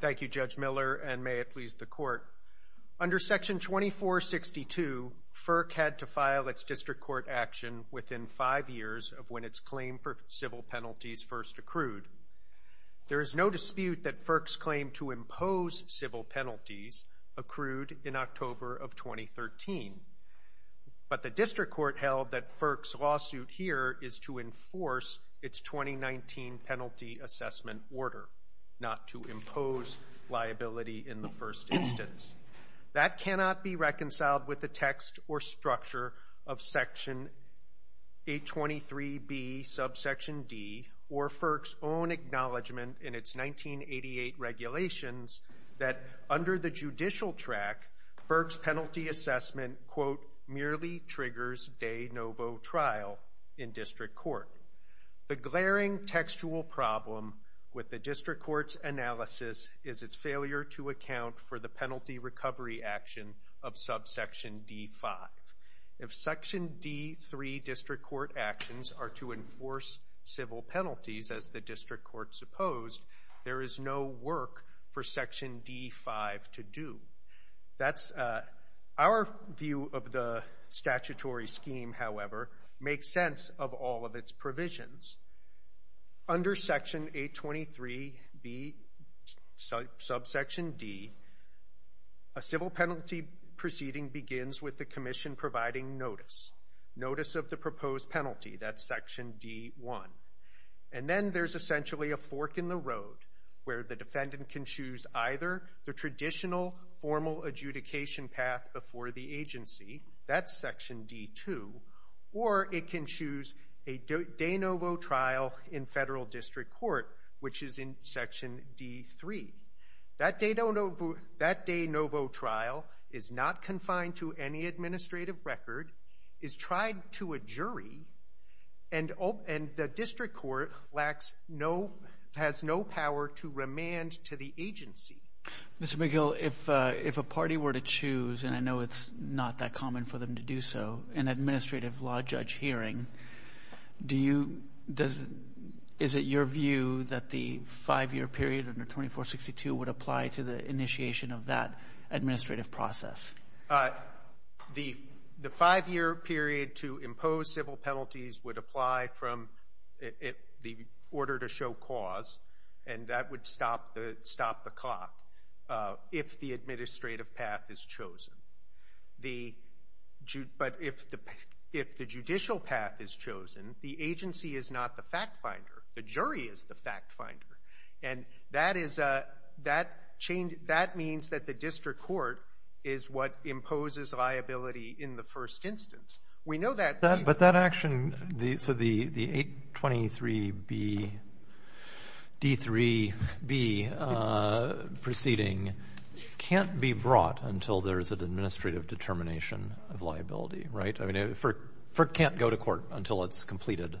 Thank you, Judge Miller, and may it please the Court. Under Section 2462, FERC had to file its district court action within five years of when its claim for civil penalties first accrued. There is no dispute that FERC's claim to impose civil penalties accrued in October of 2013, but the district court held that FERC's lawsuit here is to enforce its 2019 Penalty Assessment Order, not to impose liability in the first instance. That cannot be reconciled with the text or structure of Section 823B, subsection D, or FERC's own acknowledgment in its 1988 regulations that, under the judicial track, FERC's penalty assessment, quote, merely triggers de novo trial in district court. The glaring textual problem with the district court's analysis is its failure to account for the penalty recovery action of subsection D-5. If Section D-3 district court actions are to enforce civil penalties as the district court supposed, there is no work for Section D-5 to do. Our view of the statutory scheme, however, makes sense of all of its provisions. Under Section 823B, subsection D, a civil penalty proceeding begins with the commission providing notice, notice of the proposed penalty, that's Section D-1. And then there's essentially a fork in the road where the defendant can choose either the traditional formal adjudication path before the agency, that's Section D-2, or it can choose a de novo trial in federal district court, which is in Section D-3. That de novo trial is not confined to any administrative record, is tried to a jury, and the district court has no power to remand to the agency. Mr. McGill, if a party were to choose, and I know it's not that common for them to do so, an administrative law judge hearing, is it your view that the five-year period under 2462 would apply to the initiation of that administrative process? The five-year period to impose civil penalties would apply from the order to show cause, and that would stop the clock if the administrative path is chosen. But if the judicial path is chosen, the agency is not the fact finder. The jury is the fact finder. And that is a — that means that the district court is what imposes liability in the first instance. We know that the — of liability, right? I mean, FERC can't go to court until it's completed.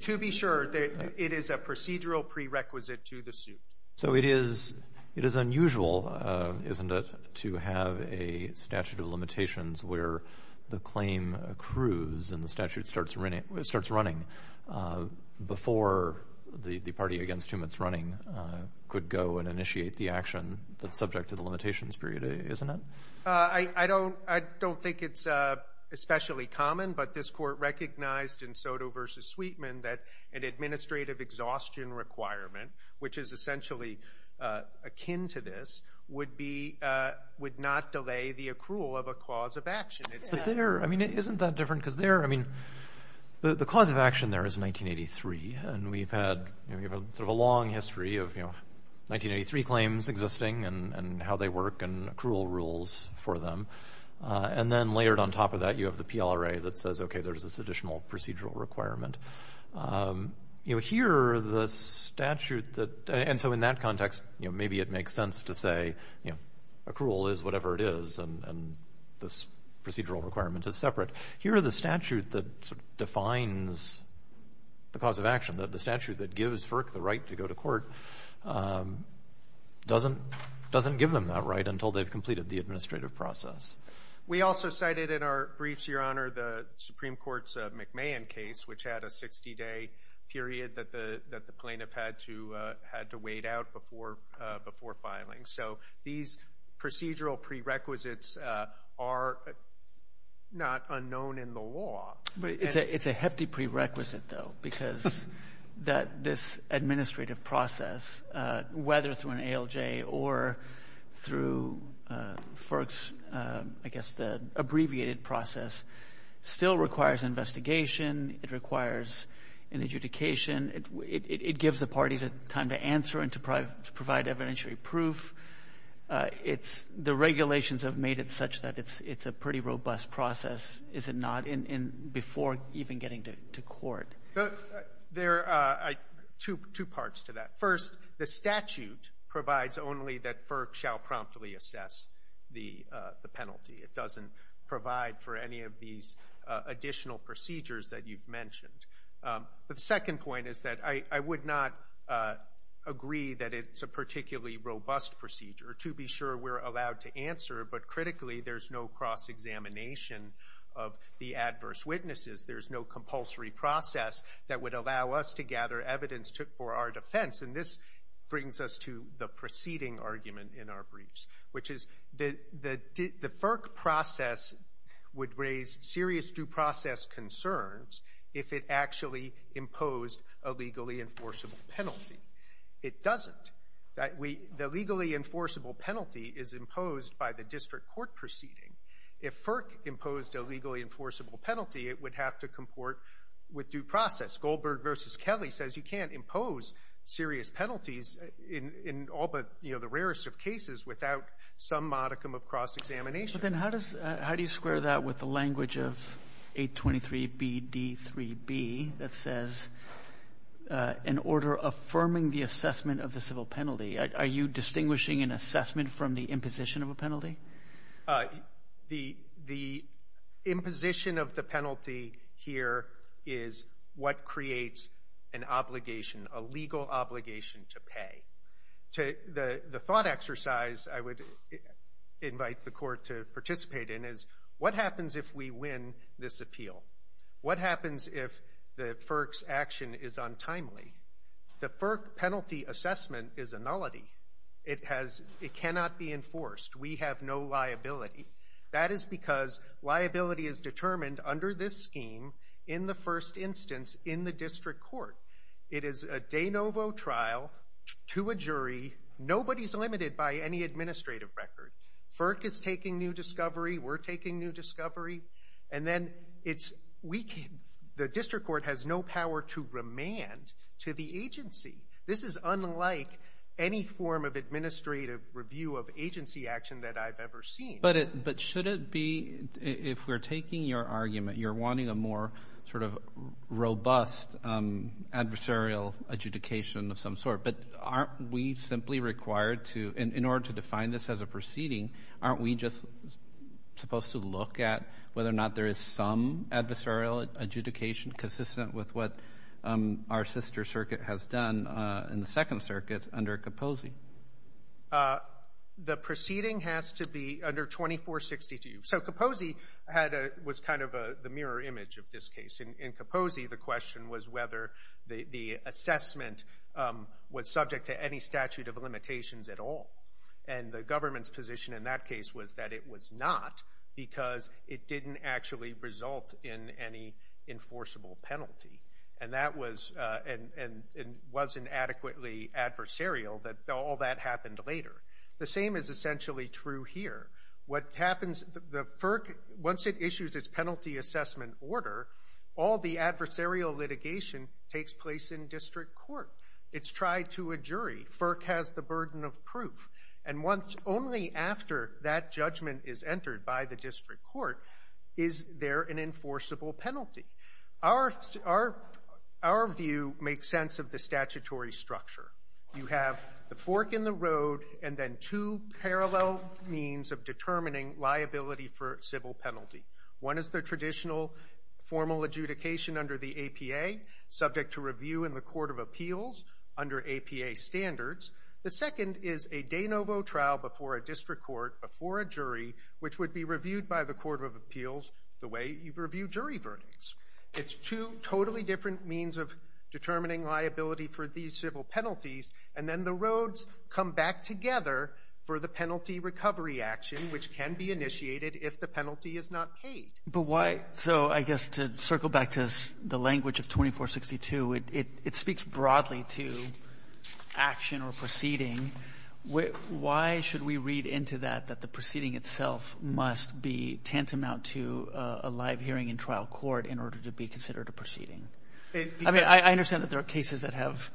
To be sure, it is a procedural prerequisite to the suit. So it is unusual, isn't it, to have a statute of limitations where the claim accrues and the statute starts running before the party against whom it's running could go and initiate the action that's subject to the limitations period, isn't it? I don't think it's especially common, but this court recognized in Soto v. Sweetman that an administrative exhaustion requirement, which is essentially akin to this, would be — would not delay the accrual of a cause of action. But there — I mean, isn't that different? Because there — I mean, the cause of action there is 1983, and we've had sort of a long history of, you know, 1983 claims existing and how they work and accrual rules for them. And then layered on top of that, you have the PLRA that says, okay, there's this additional procedural requirement. You know, here the statute that — and so in that context, you know, maybe it makes sense to say, you know, accrual is whatever it is, and this procedural requirement is separate. Here are the statute that sort of defines the cause of action, and the statute that gives FERC the right to go to court doesn't give them that right until they've completed the administrative process. We also cited in our briefs, Your Honor, the Supreme Court's McMahon case, which had a 60-day period that the plaintiff had to wait out before filing. So these procedural prerequisites are not unknown in the law. It's a hefty prerequisite, though, because this administrative process, whether through an ALJ or through FERC's, I guess, the abbreviated process still requires investigation. It requires an adjudication. It gives the parties time to answer and to provide evidentiary proof. The regulations have made it such that it's a pretty robust process, is it not, before even getting to court? There are two parts to that. First, the statute provides only that FERC shall promptly assess the penalty. It doesn't provide for any of these additional procedures that you've mentioned. The second point is that I would not agree that it's a particularly robust procedure. To be sure, we're allowed to answer, but critically there's no cross-examination of the adverse witnesses. There's no compulsory process that would allow us to gather evidence for our defense. And this brings us to the preceding argument in our briefs, which is the FERC process would raise serious due process concerns if it actually imposed a legally enforceable penalty. It doesn't. The legally enforceable penalty is imposed by the district court proceeding. If FERC imposed a legally enforceable penalty, it would have to comport with due process. Goldberg v. Kelly says you can't impose serious penalties in all but the rarest of cases without some modicum of cross-examination. Then how do you square that with the language of 823BD3B that says, in order of affirming the assessment of the civil penalty, are you distinguishing an assessment from the imposition of a penalty? The imposition of the penalty here is what creates an obligation, a legal obligation to pay. The thought exercise I would invite the court to participate in is, what happens if we win this appeal? What happens if the FERC's action is untimely? The FERC penalty assessment is a nullity. It cannot be enforced. We have no liability. That is because liability is determined under this scheme in the first instance in the district court. It is a de novo trial to a jury. Nobody is limited by any administrative record. FERC is taking new discovery. We're taking new discovery. And then the district court has no power to remand to the agency. This is unlike any form of administrative review of agency action that I've ever seen. But should it be, if we're taking your argument, you're wanting a more sort of robust adversarial adjudication of some sort, but aren't we simply required to, in order to define this as a proceeding, aren't we just supposed to look at whether or not there is some adversarial adjudication consistent with what our sister circuit has done in the Second Circuit under Capozzi? The proceeding has to be under 2462. So Capozzi was kind of the mirror image of this case. In Capozzi, the question was whether the assessment was subject to any statute of limitations at all. And the government's position in that case was that it was not, because it didn't actually result in any enforceable penalty. And that was, and wasn't adequately adversarial, that all that happened later. The same is essentially true here. What happens, the FERC, once it issues its penalty assessment order, all the adversarial litigation takes place in district court. It's tried to a jury. FERC has the burden of proof. And only after that judgment is entered by the district court is there an enforceable penalty. Our view makes sense of the statutory structure. You have the fork in the road and then two parallel means of determining liability for civil penalty. One is the traditional formal adjudication under the APA, subject to review in the Court of Appeals under APA standards. The second is a de novo trial before a district court, before a jury, which would be reviewed by the Court of Appeals the way you review jury verdicts. It's two totally different means of determining liability for these civil penalties. And then the roads come back together for the penalty recovery action, which can be initiated if the penalty is not paid. But why? So I guess to circle back to the language of 2462, it speaks broadly to action or proceeding. Why should we read into that that the proceeding itself must be tantamount to a live hearing in trial court in order to be considered a proceeding? I mean, I understand that there are cases that have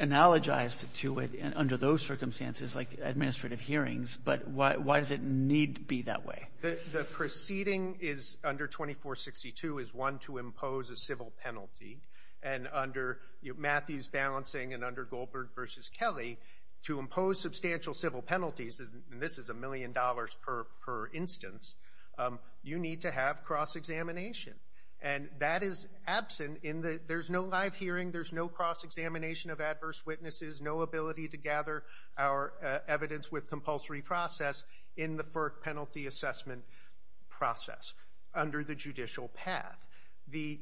analogized to it under those circumstances, like administrative hearings, but why does it need to be that way? The proceeding under 2462 is one to impose a civil penalty. And under Matthews balancing and under Goldberg v. Kelly, to impose substantial civil penalties, and this is a million dollars per instance, you need to have cross-examination. And that is absent in the – there's no live hearing, there's no cross-examination of adverse witnesses, no ability to gather our evidence with compulsory process in the FERC penalty assessment process under the judicial path. The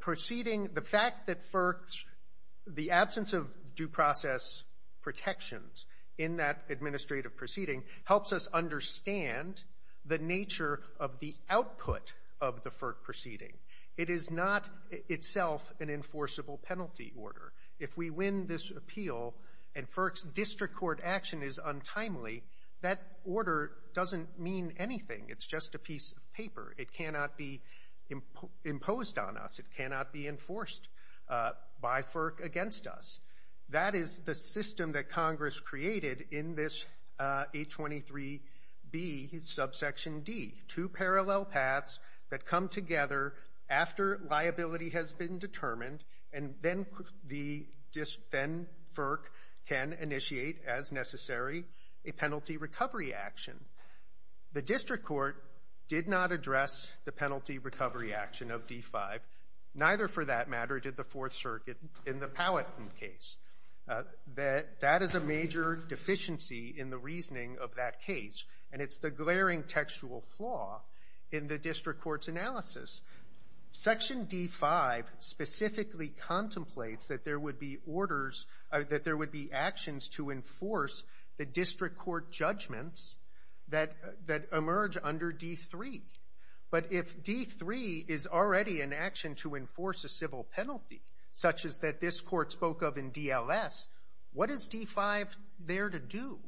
proceeding – the fact that FERC's – the absence of due process protections in that administrative proceeding helps us understand the nature of the output of the FERC proceeding. It is not itself an enforceable penalty order. If we win this appeal and FERC's district court action is untimely, that order doesn't mean anything. It's just a piece of paper. It cannot be imposed on us. It cannot be enforced by FERC against us. That is the system that Congress created in this 823B subsection D, two parallel paths that come together after liability has been determined and then the – then FERC can initiate, as necessary, a penalty recovery action. The district court did not address the penalty recovery action of D-5, neither, for that matter, did the Fourth Circuit in the Powhatan case. That is a major deficiency in the reasoning of that case, and it's the glaring textual flaw in the district court's analysis. Section D-5 specifically contemplates that there would be orders – that there would be actions to enforce the district court judgments that emerge under D-3. But if D-3 is already an action to enforce a civil penalty, such as that this court spoke of in DLS, what is D-5 there to do?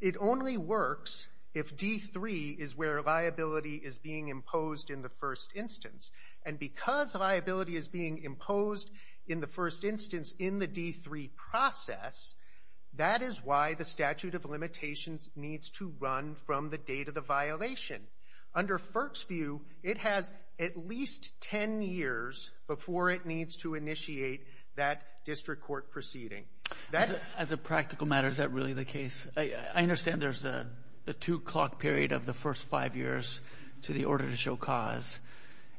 It only works if D-3 is where liability is being imposed in the first instance. And because liability is being imposed in the first instance in the D-3 process, that is why the statute of limitations needs to run from the date of the violation. Under FERC's view, it has at least 10 years before it needs to initiate that district court proceeding. As a practical matter, is that really the case? I understand there's the two-clock period of the first five years to the order to show cause.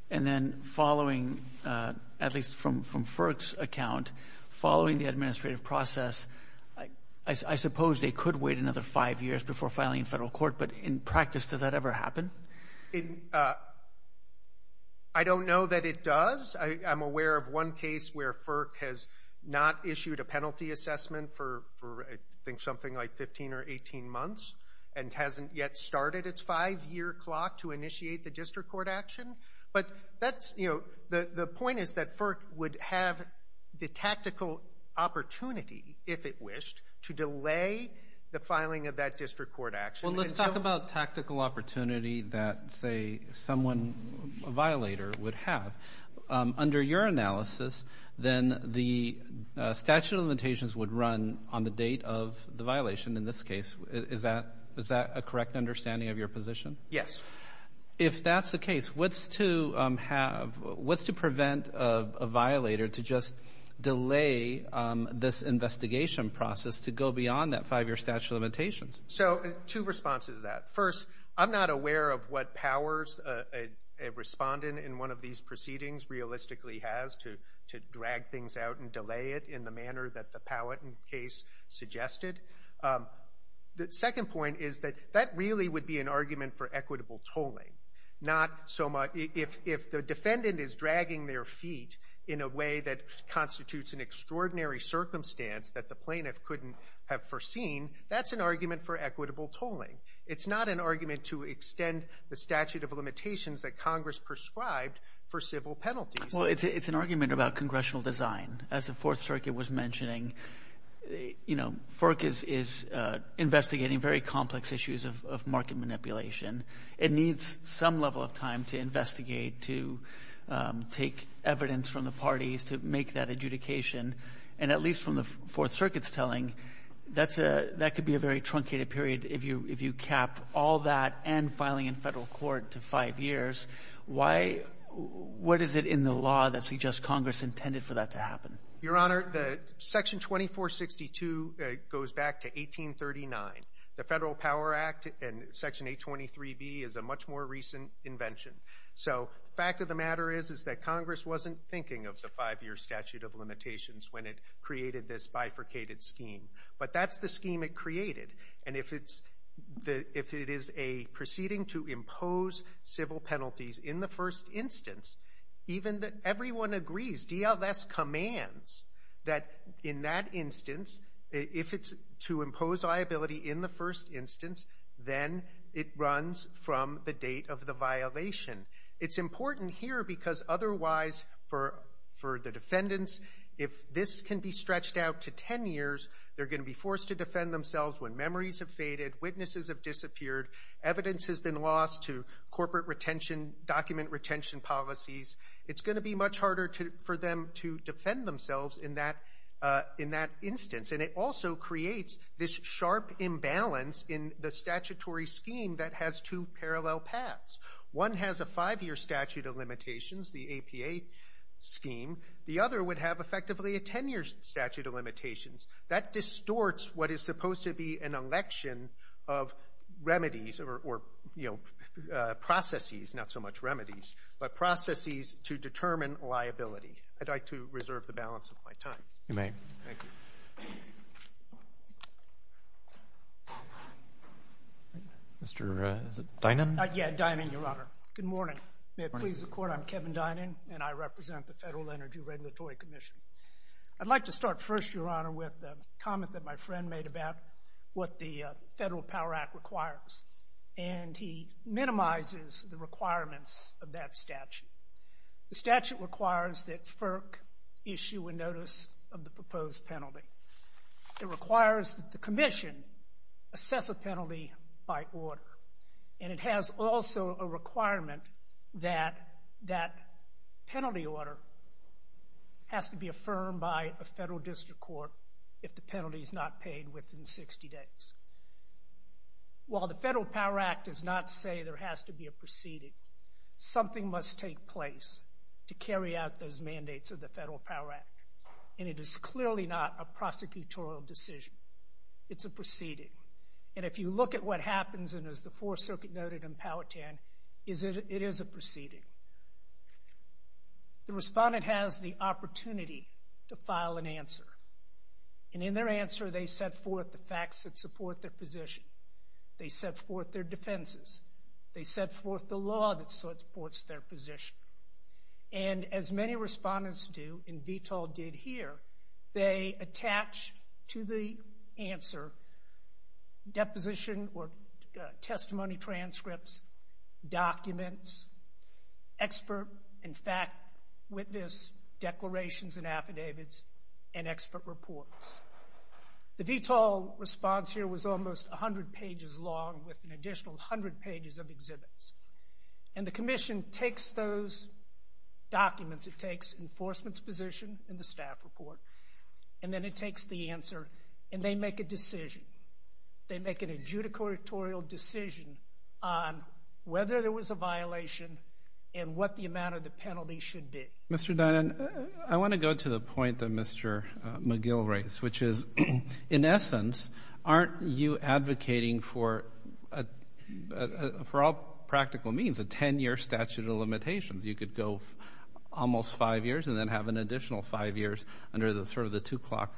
And then following, at least from FERC's account, following the administrative process, I suppose they could wait another five years before filing in federal court. But in practice, does that ever happen? I don't know that it does. I'm aware of one case where FERC has not issued a penalty assessment for, I think, something like 15 or 18 months and hasn't yet started its five-year clock to initiate the district court action. But that's, you know, the point is that FERC would have the tactical opportunity, if it wished, to delay the filing of that district court action. Well, let's talk about tactical opportunity that, say, someone, a violator, would have. Under your analysis, then the statute of limitations would run on the date of the violation in this case. Is that a correct understanding of your position? Yes. If that's the case, what's to prevent a violator to just delay this investigation process to go beyond that five-year statute of limitations? So two responses to that. First, I'm not aware of what powers a respondent in one of these proceedings realistically has to drag things out and delay it in the manner that the Powhatan case suggested. The second point is that that really would be an argument for equitable tolling. If the defendant is dragging their feet in a way that constitutes an extraordinary circumstance that the plaintiff couldn't have foreseen, that's an argument for equitable tolling. It's not an argument to extend the statute of limitations that Congress prescribed for civil penalties. Well, it's an argument about congressional design. As the Fourth Circuit was mentioning, you know, FERC is investigating very complex issues of market manipulation. It needs some level of time to investigate, to take evidence from the parties, to make that adjudication. And at least from the Fourth Circuit's telling, that could be a very truncated period if you cap all that and filing in Federal court to five years. Why — what is it in the law that suggests Congress intended for that to happen? Your Honor, Section 2462 goes back to 1839. The Federal Power Act and Section 823B is a much more recent invention. So the fact of the matter is that Congress wasn't thinking of the five-year statute of limitations when it created this bifurcated scheme. But that's the scheme it created. And if it is a proceeding to impose civil penalties in the first instance, even if everyone agrees, DLS commands that in that instance, if it's to impose liability in the first instance, then it runs from the date of the violation. It's important here because otherwise for the defendants, if this can be stretched out to ten years, they're going to be forced to defend themselves when memories have faded, witnesses have disappeared, evidence has been lost to corporate retention, document retention policies. It's going to be much harder for them to defend themselves in that instance. And it also creates this sharp imbalance in the statutory scheme that has two parallel paths. One has a five-year statute of limitations, the APA scheme. The other would have effectively a ten-year statute of limitations. That distorts what is supposed to be an election of remedies or, you know, processes, not so much remedies, but processes to determine liability. I'd like to reserve the balance of my time. You may. Thank you. Mr. Dynan? Yeah, Dynan, Your Honor. Good morning. May it please the Court, I'm Kevin Dynan, and I represent the Federal Energy Regulatory Commission. I'd like to start first, Your Honor, with a comment that my friend made about what the Federal Power Act requires. And he minimizes the requirements of that statute. The statute requires that FERC issue a notice of the proposed penalty. It requires that the Commission assess a penalty by order. And it has also a requirement that that penalty order has to be affirmed by a federal district court if the penalty is not paid within 60 days. While the Federal Power Act does not say there has to be a proceeding, something must take place to carry out those mandates of the Federal Power Act. And it is clearly not a prosecutorial decision. It's a proceeding. And if you look at what happens, and as the Fourth Circuit noted in Powhatan, it is a proceeding. The respondent has the opportunity to file an answer. And in their answer, they set forth the facts that support their position. They set forth their defenses. They set forth the law that supports their position. And as many respondents do, and VTOL did here, they attach to the answer deposition or testimony transcripts, documents, expert and fact witness declarations and affidavits, and expert reports. The VTOL response here was almost 100 pages long with an additional 100 pages of exhibits. And the Commission takes those documents. It takes enforcement's position and the staff report. And then it takes the answer. And they make a decision. They make an adjudicatorial decision on whether there was a violation and what the amount of the penalty should be. Mr. Dynan, I want to go to the point that Mr. McGill raised, which is, in essence, aren't you advocating for all practical means a 10-year statute of limitations? You could go almost five years and then have an additional five years under sort of the two-clock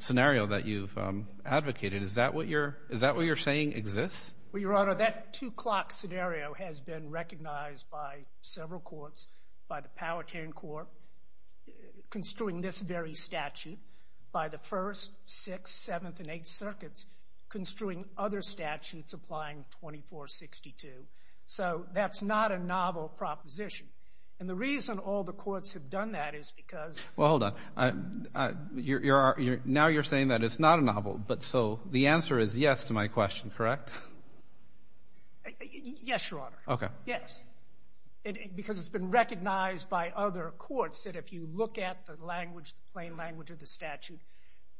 scenario that you've advocated. Is that what you're saying exists? Well, Your Honor, that two-clock scenario has been recognized by several courts, by the Powhatan Court construing this very statute, by the First, Sixth, Seventh, and Eighth Circuits construing other statutes applying 2462. So that's not a novel proposition. And the reason all the courts have done that is because of the statute. Well, hold on. Now you're saying that it's not a novel, but so the answer is yes to my question, correct? Yes, Your Honor. Okay. Yes. Because it's been recognized by other courts that if you look at the language, the plain language of the statute,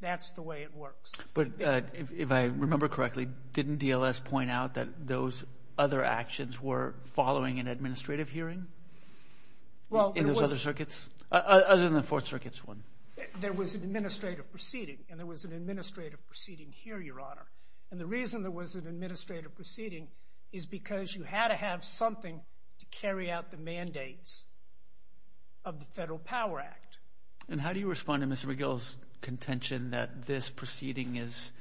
that's the way it works. But if I remember correctly, didn't DLS point out that those other actions were following an administrative hearing? In those other circuits? Other than the Fourth Circuit's one. There was an administrative proceeding, and there was an administrative proceeding here, Your Honor. And the reason there was an administrative proceeding is because you had to have something to carry out the mandates of the Federal Power Act. And how do you respond to Mr. McGill's contention that this proceeding is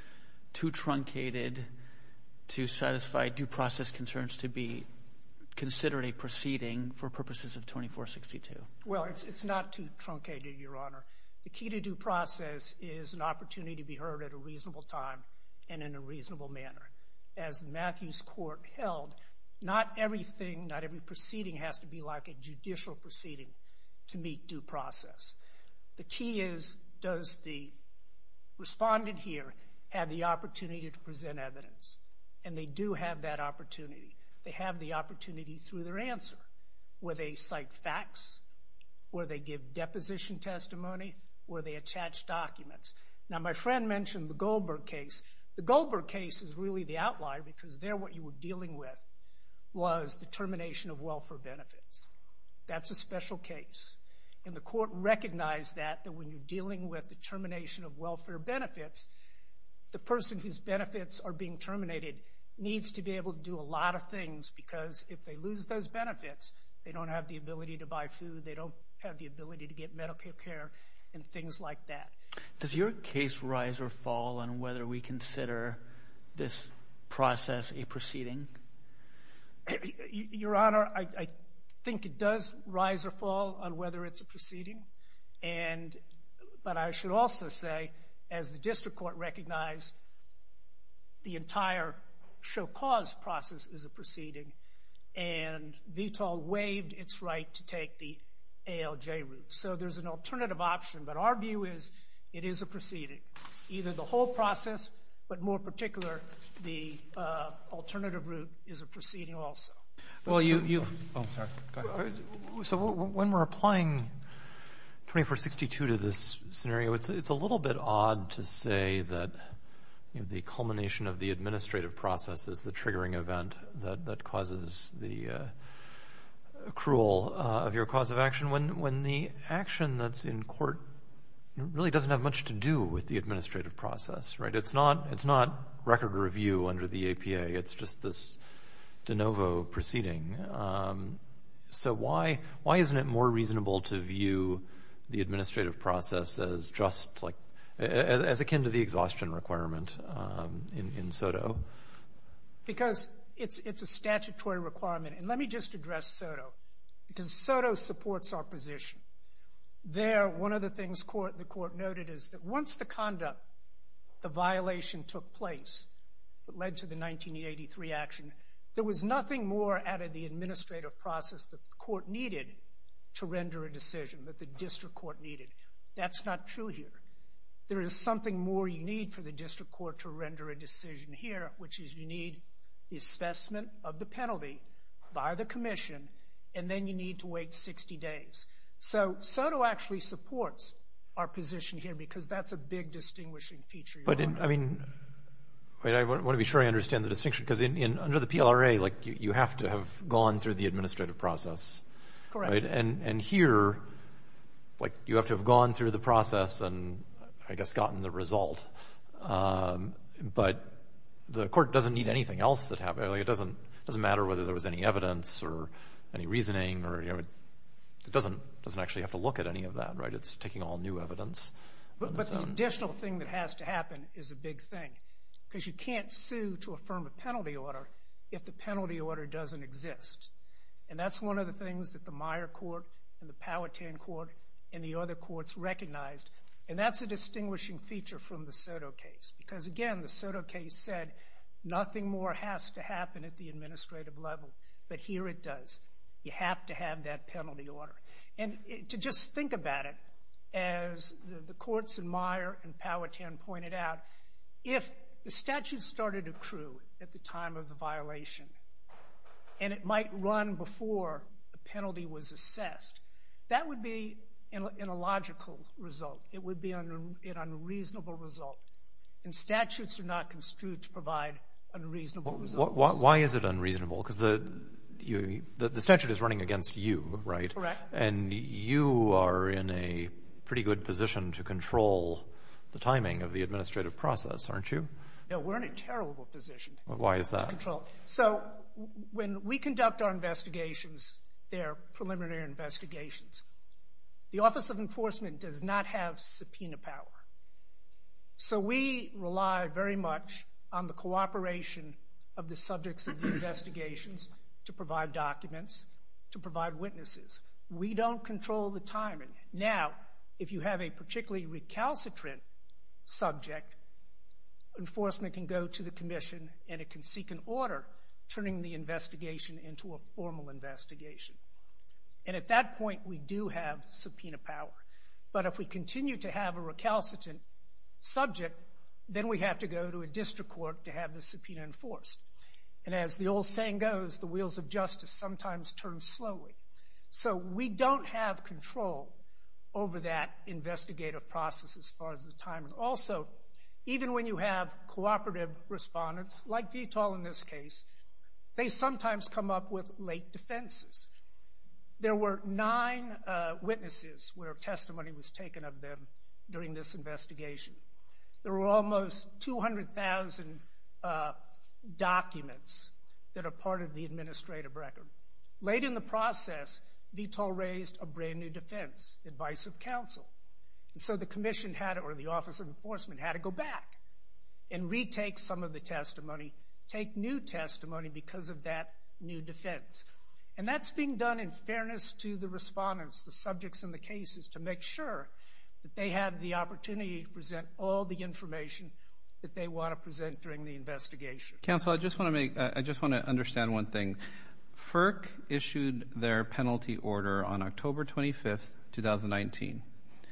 too truncated to satisfy due process concerns to be considered a proceeding for purposes of 2462? Well, it's not too truncated, Your Honor. The key to due process is an opportunity to be heard at a reasonable time and in a reasonable manner. As Matthew's court held, not everything, not every proceeding, has to be like a judicial proceeding to meet due process. The key is, does the respondent here have the opportunity to present evidence? And they do have that opportunity. They have the opportunity through their answer. Will they cite facts? Will they give deposition testimony? Will they attach documents? Now, my friend mentioned the Goldberg case. The Goldberg case is really the outlier because there what you were dealing with was the termination of welfare benefits. That's a special case. And the court recognized that when you're dealing with the termination of welfare benefits, the person whose benefits are being terminated needs to be able to do a lot of things because if they lose those benefits, they don't have the ability to buy food, they don't have the ability to get medical care, and things like that. Does your case rise or fall on whether we consider this process a proceeding? Your Honor, I think it does rise or fall on whether it's a proceeding. But I should also say, as the district court recognized, the entire show cause process is a proceeding, and VTOL waived its right to take the ALJ route. So there's an alternative option, but our view is it is a proceeding. Either the whole process, but more particular, the alternative route is a proceeding also. So when we're applying 2462 to this scenario, it's a little bit odd to say that the culmination of the administrative process is the triggering event that causes the accrual of your cause of action. And when the action that's in court really doesn't have much to do with the administrative process, right? It's not record review under the APA. It's just this de novo proceeding. So why isn't it more reasonable to view the administrative process as akin to the exhaustion requirement in SOTO? Because it's a statutory requirement. And let me just address SOTO, because SOTO supports our position. There, one of the things the court noted is that once the conduct, the violation took place that led to the 1983 action, there was nothing more out of the administrative process that the court needed to render a decision, that the district court needed. That's not true here. There is something more you need for the district court to render a decision here, which is you need the assessment of the penalty by the commission, and then you need to wait 60 days. So SOTO actually supports our position here because that's a big distinguishing feature. But, I mean, I want to be sure I understand the distinction. Because under the PLRA, like, you have to have gone through the administrative process. Correct. And here, like, you have to have gone through the process and I guess gotten the result. But the court doesn't need anything else. It doesn't matter whether there was any evidence or any reasoning. It doesn't actually have to look at any of that. It's taking all new evidence. But the additional thing that has to happen is a big thing, because you can't sue to affirm a penalty order if the penalty order doesn't exist. And that's one of the things that the Meyer Court and the Powhatan Court and the other courts recognized. And that's a distinguishing feature from the SOTO case. Because, again, the SOTO case said nothing more has to happen at the administrative level. But here it does. You have to have that penalty order. And to just think about it, as the courts in Meyer and Powhatan pointed out, if the statute started to accrue at the time of the violation and it might run before the penalty was assessed, that would be an illogical result. It would be an unreasonable result. And statutes are not construed to provide unreasonable results. Why is it unreasonable? Because the statute is running against you, right? Correct. And you are in a pretty good position to control the timing of the administrative process, aren't you? No, we're in a terrible position. Why is that? So when we conduct our investigations, they're preliminary investigations. The Office of Enforcement does not have subpoena power. So we rely very much on the cooperation of the subjects of the investigations to provide documents, to provide witnesses. We don't control the timing. Now, if you have a particularly recalcitrant subject, enforcement can go to the commission and it can seek an order, turning the investigation into a formal investigation. And at that point, we do have subpoena power. But if we continue to have a recalcitrant subject, then we have to go to a district court to have the subpoena enforced. And as the old saying goes, the wheels of justice sometimes turn slowly. So we don't have control over that investigative process as far as the timing. Also, even when you have cooperative respondents, like VTOL in this case, they sometimes come up with late defenses. There were nine witnesses where testimony was taken of them during this investigation. There were almost 200,000 documents that are part of the administrative record. Late in the process, VTOL raised a brand-new defense, Advice of Counsel. And so the commission or the Office of Enforcement had to go back and retake some of the testimony, take new testimony because of that new defense. And that's being done in fairness to the respondents, the subjects in the cases, to make sure that they have the opportunity to present all the information that they want to present during the investigation. Counsel, I just want to understand one thing. FERC issued their penalty order on October 25, 2019.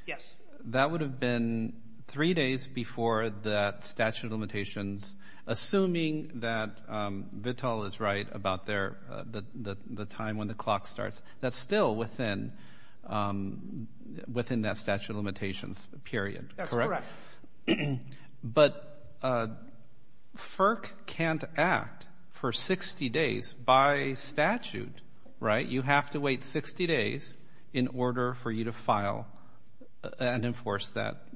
Yes. That would have been three days before that statute of limitations, assuming that VTOL is right about the time when the clock starts. That's still within that statute of limitations period, correct? That's correct. But FERC can't act for 60 days by statute, right? You have to wait 60 days in order for you to file and enforce that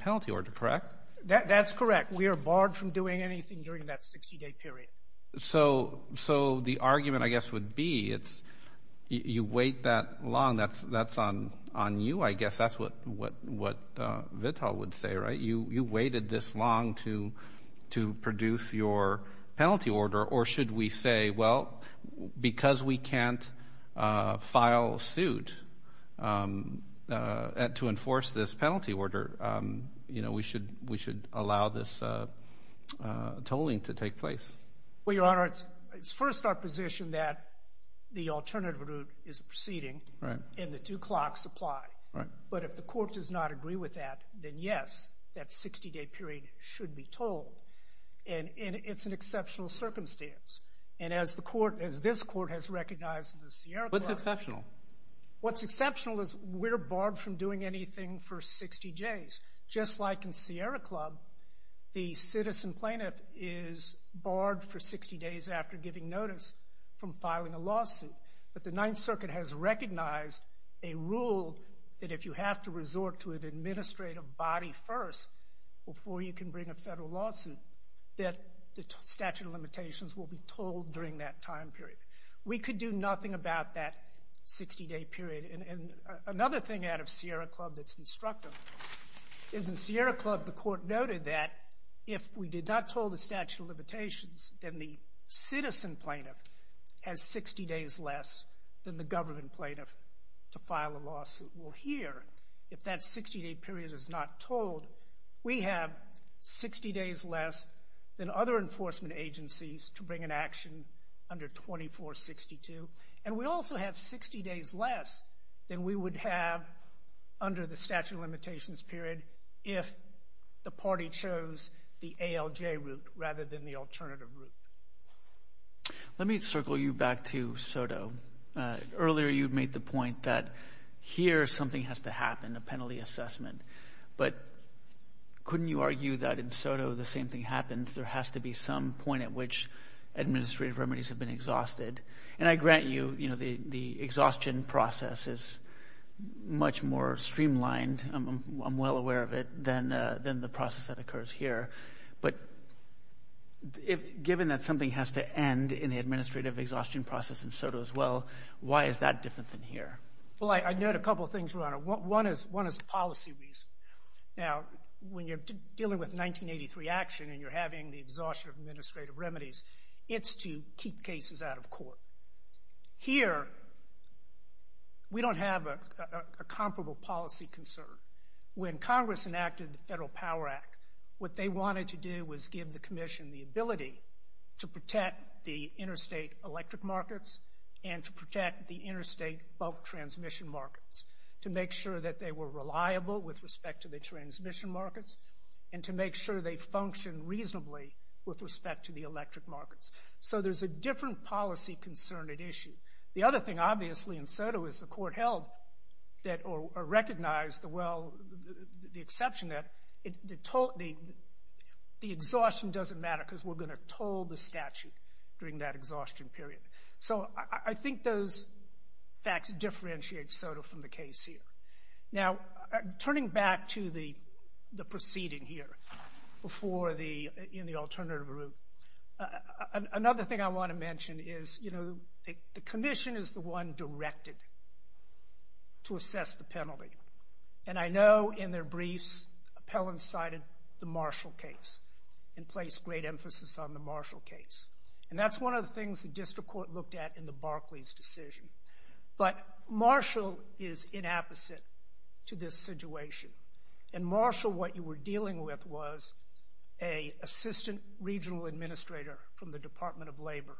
penalty order, correct? That's correct. We are barred from doing anything during that 60-day period. So the argument, I guess, would be you wait that long. That's on you, I guess. That's what VTOL would say, right? You waited this long to produce your penalty order. Or should we say, well, because we can't file suit to enforce this penalty order, we should allow this tolling to take place? Well, Your Honor, it's first our position that the alternative route is proceeding and the two clocks apply. But if the court does not agree with that, then, yes, that 60-day period should be tolled. And it's an exceptional circumstance. And as this court has recognized in the Sierra Club. What's exceptional? What's exceptional is we're barred from doing anything for 60 days. Just like in Sierra Club, the citizen plaintiff is barred for 60 days after giving notice from filing a lawsuit. But the Ninth Circuit has recognized a rule that if you have to resort to an administrative body first before you can bring a federal lawsuit, that the statute of limitations will be tolled during that time period. We could do nothing about that 60-day period. And another thing out of Sierra Club that's instructive is in Sierra Club, the court noted that if we did not toll the statute of limitations, then the citizen plaintiff has 60 days less than the government plaintiff to file a lawsuit. Well, here, if that 60-day period is not tolled, we have 60 days less than other enforcement agencies to bring an action under 2462. And we also have 60 days less than we would have under the statute of limitations period if the party chose the ALJ route rather than the alternative route. Let me circle you back to SOTO. Earlier you made the point that here something has to happen, a penalty assessment. But couldn't you argue that in SOTO the same thing happens? There has to be some point at which administrative remedies have been exhausted. And I grant you, you know, the exhaustion process is much more streamlined, I'm well aware of it, than the process that occurs here. But given that something has to end in the administrative exhaustion process in SOTO as well, why is that different than here? Well, I note a couple of things, Your Honor. One is policy reason. Now, when you're dealing with 1983 action and you're having the exhaustion of administrative remedies, it's to keep cases out of court. Here, we don't have a comparable policy concern. When Congress enacted the Federal Power Act, what they wanted to do was give the Commission the ability to protect the interstate electric markets and to protect the interstate bulk transmission markets, to make sure that they were reliable with respect to the transmission markets and to make sure they function reasonably with respect to the electric markets. So there's a different policy concern at issue. The other thing, obviously, in SOTO is the court held or recognized the exception that the exhaustion doesn't matter because we're going to toll the statute during that exhaustion period. So I think those facts differentiate SOTO from the case here. Now, turning back to the proceeding here in the alternative route, another thing I want to mention is, you know, the Commission is the one directed to assess the penalty. And I know in their briefs, Appellant cited the Marshall case and placed great emphasis on the Marshall case. And that's one of the things the district court looked at in the Barclays decision. But Marshall is inapposite to this situation. In Marshall, what you were dealing with was an assistant regional administrator from the Department of Labor,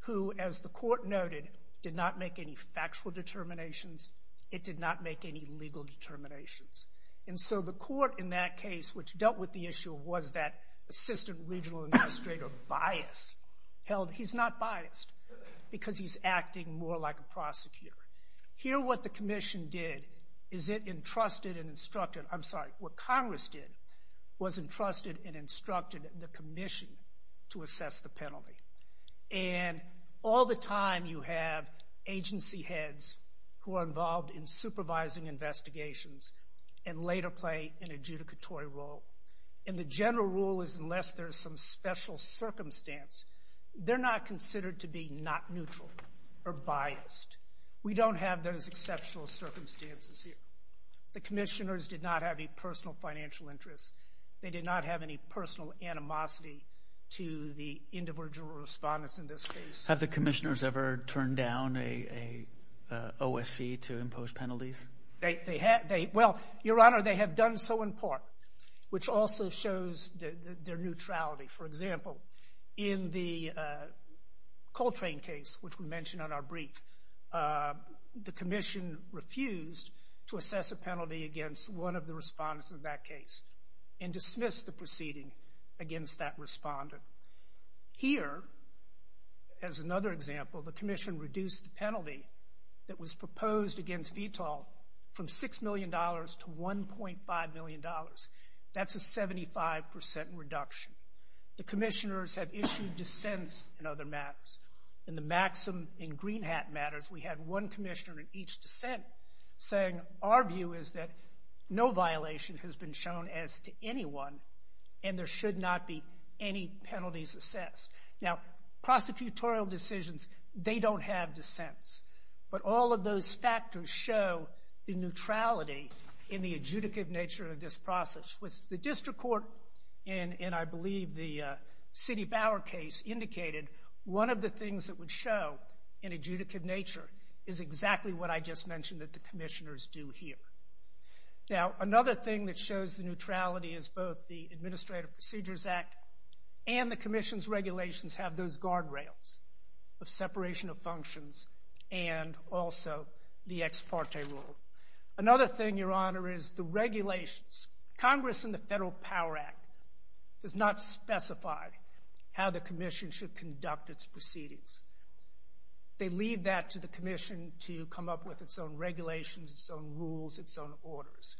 who, as the court noted, did not make any factual determinations. It did not make any legal determinations. And so the court in that case, which dealt with the issue, was that assistant regional administrator biased, held he's not biased because he's acting more like a prosecutor. Here what the Commission did is it entrusted and instructed, I'm sorry, what Congress did was entrusted and instructed the Commission to assess the penalty. And all the time you have agency heads who are involved in supervising investigations and later play an adjudicatory role. And the general rule is unless there's some special circumstance, they're not considered to be not neutral or biased. We don't have those exceptional circumstances here. The commissioners did not have any personal financial interests. They did not have any personal animosity to the individual respondents in this case. Have the commissioners ever turned down an OSC to impose penalties? Well, Your Honor, they have done so in part, which also shows their neutrality. For example, in the Coltrane case, which we mentioned on our brief, the Commission refused to assess a penalty against one of the respondents in that case and dismissed the proceeding against that respondent. Here, as another example, the Commission reduced the penalty that was proposed against VTOL from $6 million to $1.5 million. That's a 75% reduction. The commissioners have issued dissents in other matters. In the Maxim and Greenhat matters, we had one commissioner in each dissent saying, our view is that no violation has been shown as to anyone and there should not be any penalties assessed. Now, prosecutorial decisions, they don't have dissents. But all of those factors show the neutrality in the adjudicative nature of this process. With the district court, and I believe the Citi Bower case indicated, one of the things that would show in adjudicative nature is exactly what I just mentioned that the commissioners do here. Now, another thing that shows the neutrality is both the Administrative Procedures Act and the Commission's regulations have those guardrails of separation of functions and also the ex parte rule. Another thing, Your Honor, is the regulations. Congress in the Federal Power Act does not specify how the commission should conduct its proceedings. They leave that to the commission to come up with its own regulations, its own rules, its own orders.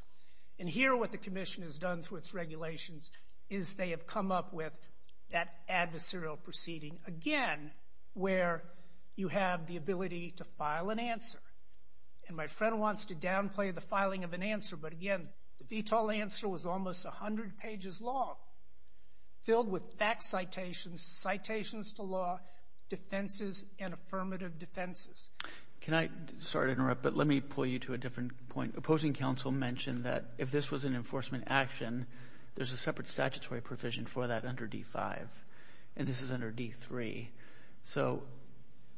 And here, what the commission has done through its regulations is they have come up with that adversarial proceeding, again, where you have the ability to file an answer. And my friend wants to downplay the filing of an answer, but again, the VTOL answer was almost 100 pages long, filled with fact citations, citations to law, defenses, and affirmative defenses. Can I? Sorry to interrupt, but let me pull you to a different point. Opposing counsel mentioned that if this was an enforcement action, there's a separate statutory provision for that under D-5, and this is under D-3. So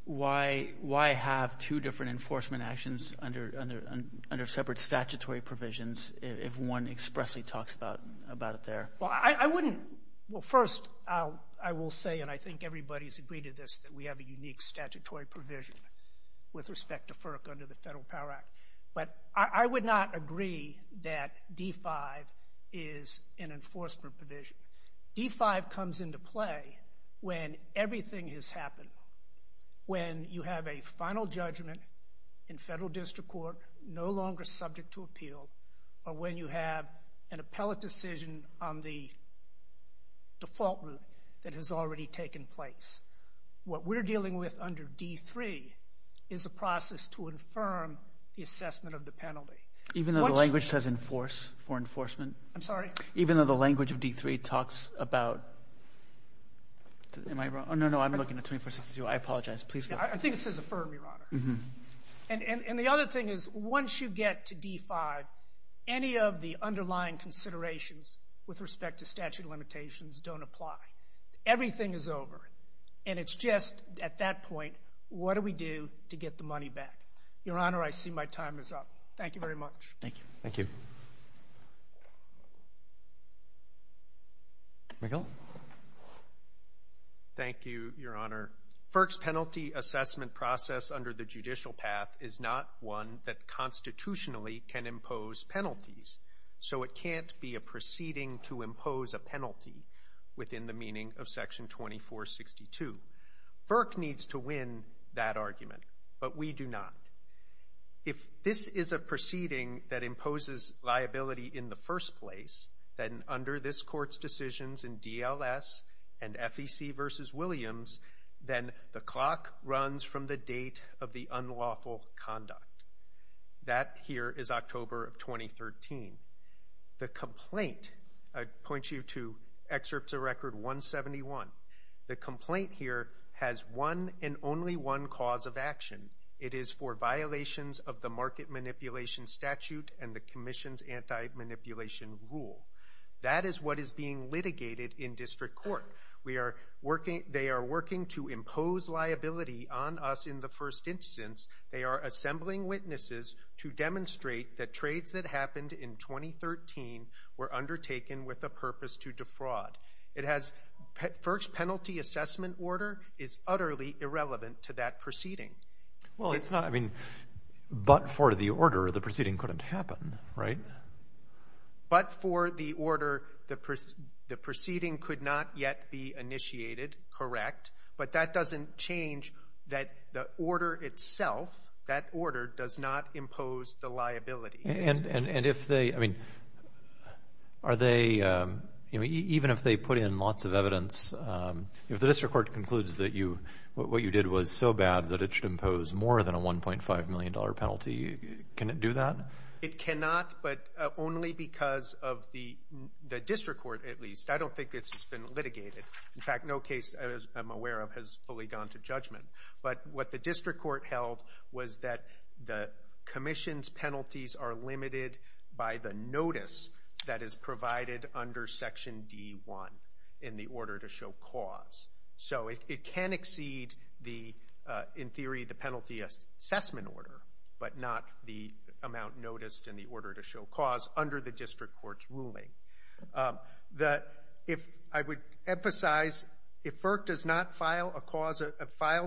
why have two different enforcement actions under separate statutory provisions if one expressly talks about it there? Well, I wouldn't. Well, first, I will say, and I think everybody's agreed to this, that we have a unique statutory provision with respect to FERC under the Federal Power Act. But I would not agree that D-5 is an enforcement provision. D-5 comes into play when everything has happened, when you have a final judgment in federal district court no longer subject to appeal, or when you have an appellate decision on the default route that has already taken place. What we're dealing with under D-3 is a process to infirm the assessment of the penalty. Even though the language says enforce for enforcement? I'm sorry? Even though the language of D-3 talks about? Am I wrong? Oh, no, no, I'm looking at 2462. I apologize. I think it says affirm, Your Honor. And the other thing is once you get to D-5, any of the underlying considerations with respect to statute of limitations don't apply. Everything is over, and it's just at that point, what do we do to get the money back? Your Honor, I see my time is up. Thank you very much. Thank you. Thank you. McHale. Thank you, Your Honor. FERC's penalty assessment process under the judicial path is not one that constitutionally can impose penalties, so it can't be a proceeding to impose a penalty within the meaning of Section 2462. FERC needs to win that argument, but we do not. If this is a proceeding that imposes liability in the first place, then under this Court's decisions in DLS and FEC v. Williams, then the clock runs from the date of the unlawful conduct. That here is October of 2013. The complaint, I point you to Excerpts of Record 171. The complaint here has one and only one cause of action. It is for violations of the market manipulation statute and the commission's anti-manipulation rule. That is what is being litigated in district court. They are working to impose liability on us in the first instance. They are assembling witnesses to demonstrate that trades that happened in 2013 were undertaken with a purpose to defraud. FERC's penalty assessment order is utterly irrelevant to that proceeding. Well, it's not. I mean, but for the order, the proceeding couldn't happen, right? But for the order, the proceeding could not yet be initiated, correct. But that doesn't change that the order itself, that order does not impose the liability. And if they, I mean, are they, even if they put in lots of evidence, if the district court concludes that what you did was so bad that it should impose more than a $1.5 million penalty, can it do that? It cannot, but only because of the district court, at least. I don't think this has been litigated. In fact, no case I'm aware of has fully gone to judgment. But what the district court held was that the commission's penalties are limited by the notice that is provided under Section D.1 in the order to show cause. So it can exceed, in theory, the penalty assessment order, but not the amount noticed in the order to show cause under the district court's ruling. I would emphasize, if FERC does not file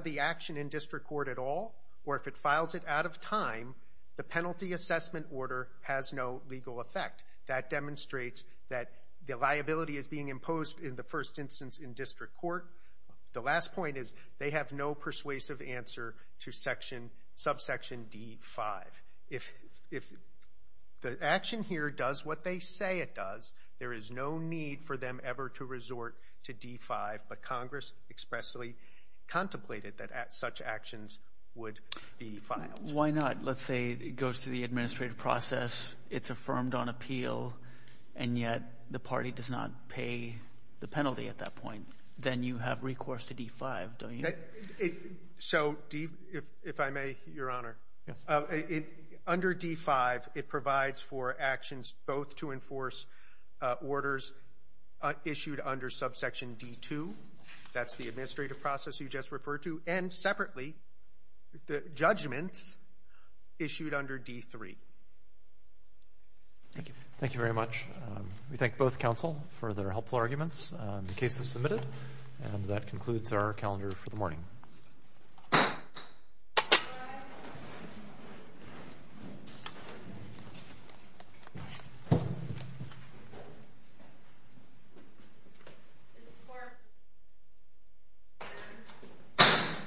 the action in district court at all, or if it files it out of time, the penalty assessment order has no legal effect. That demonstrates that the liability is being imposed in the first instance in district court. The last point is they have no persuasive answer to subsection D.5. If the action here does what they say it does, there is no need for them ever to resort to D.5, but Congress expressly contemplated that such actions would be filed. Why not? Let's say it goes through the administrative process, it's affirmed on appeal, and yet the party does not pay the penalty at that point. Then you have recourse to D.5, don't you? So, if I may, Your Honor. Yes. Under D.5, it provides for actions both to enforce orders issued under subsection D.2, that's the administrative process you just referred to, and separately, judgments issued under D.3. Thank you. Thank you very much. We thank both counsel for their helpful arguments. The case is submitted, and that concludes our calendar for the morning.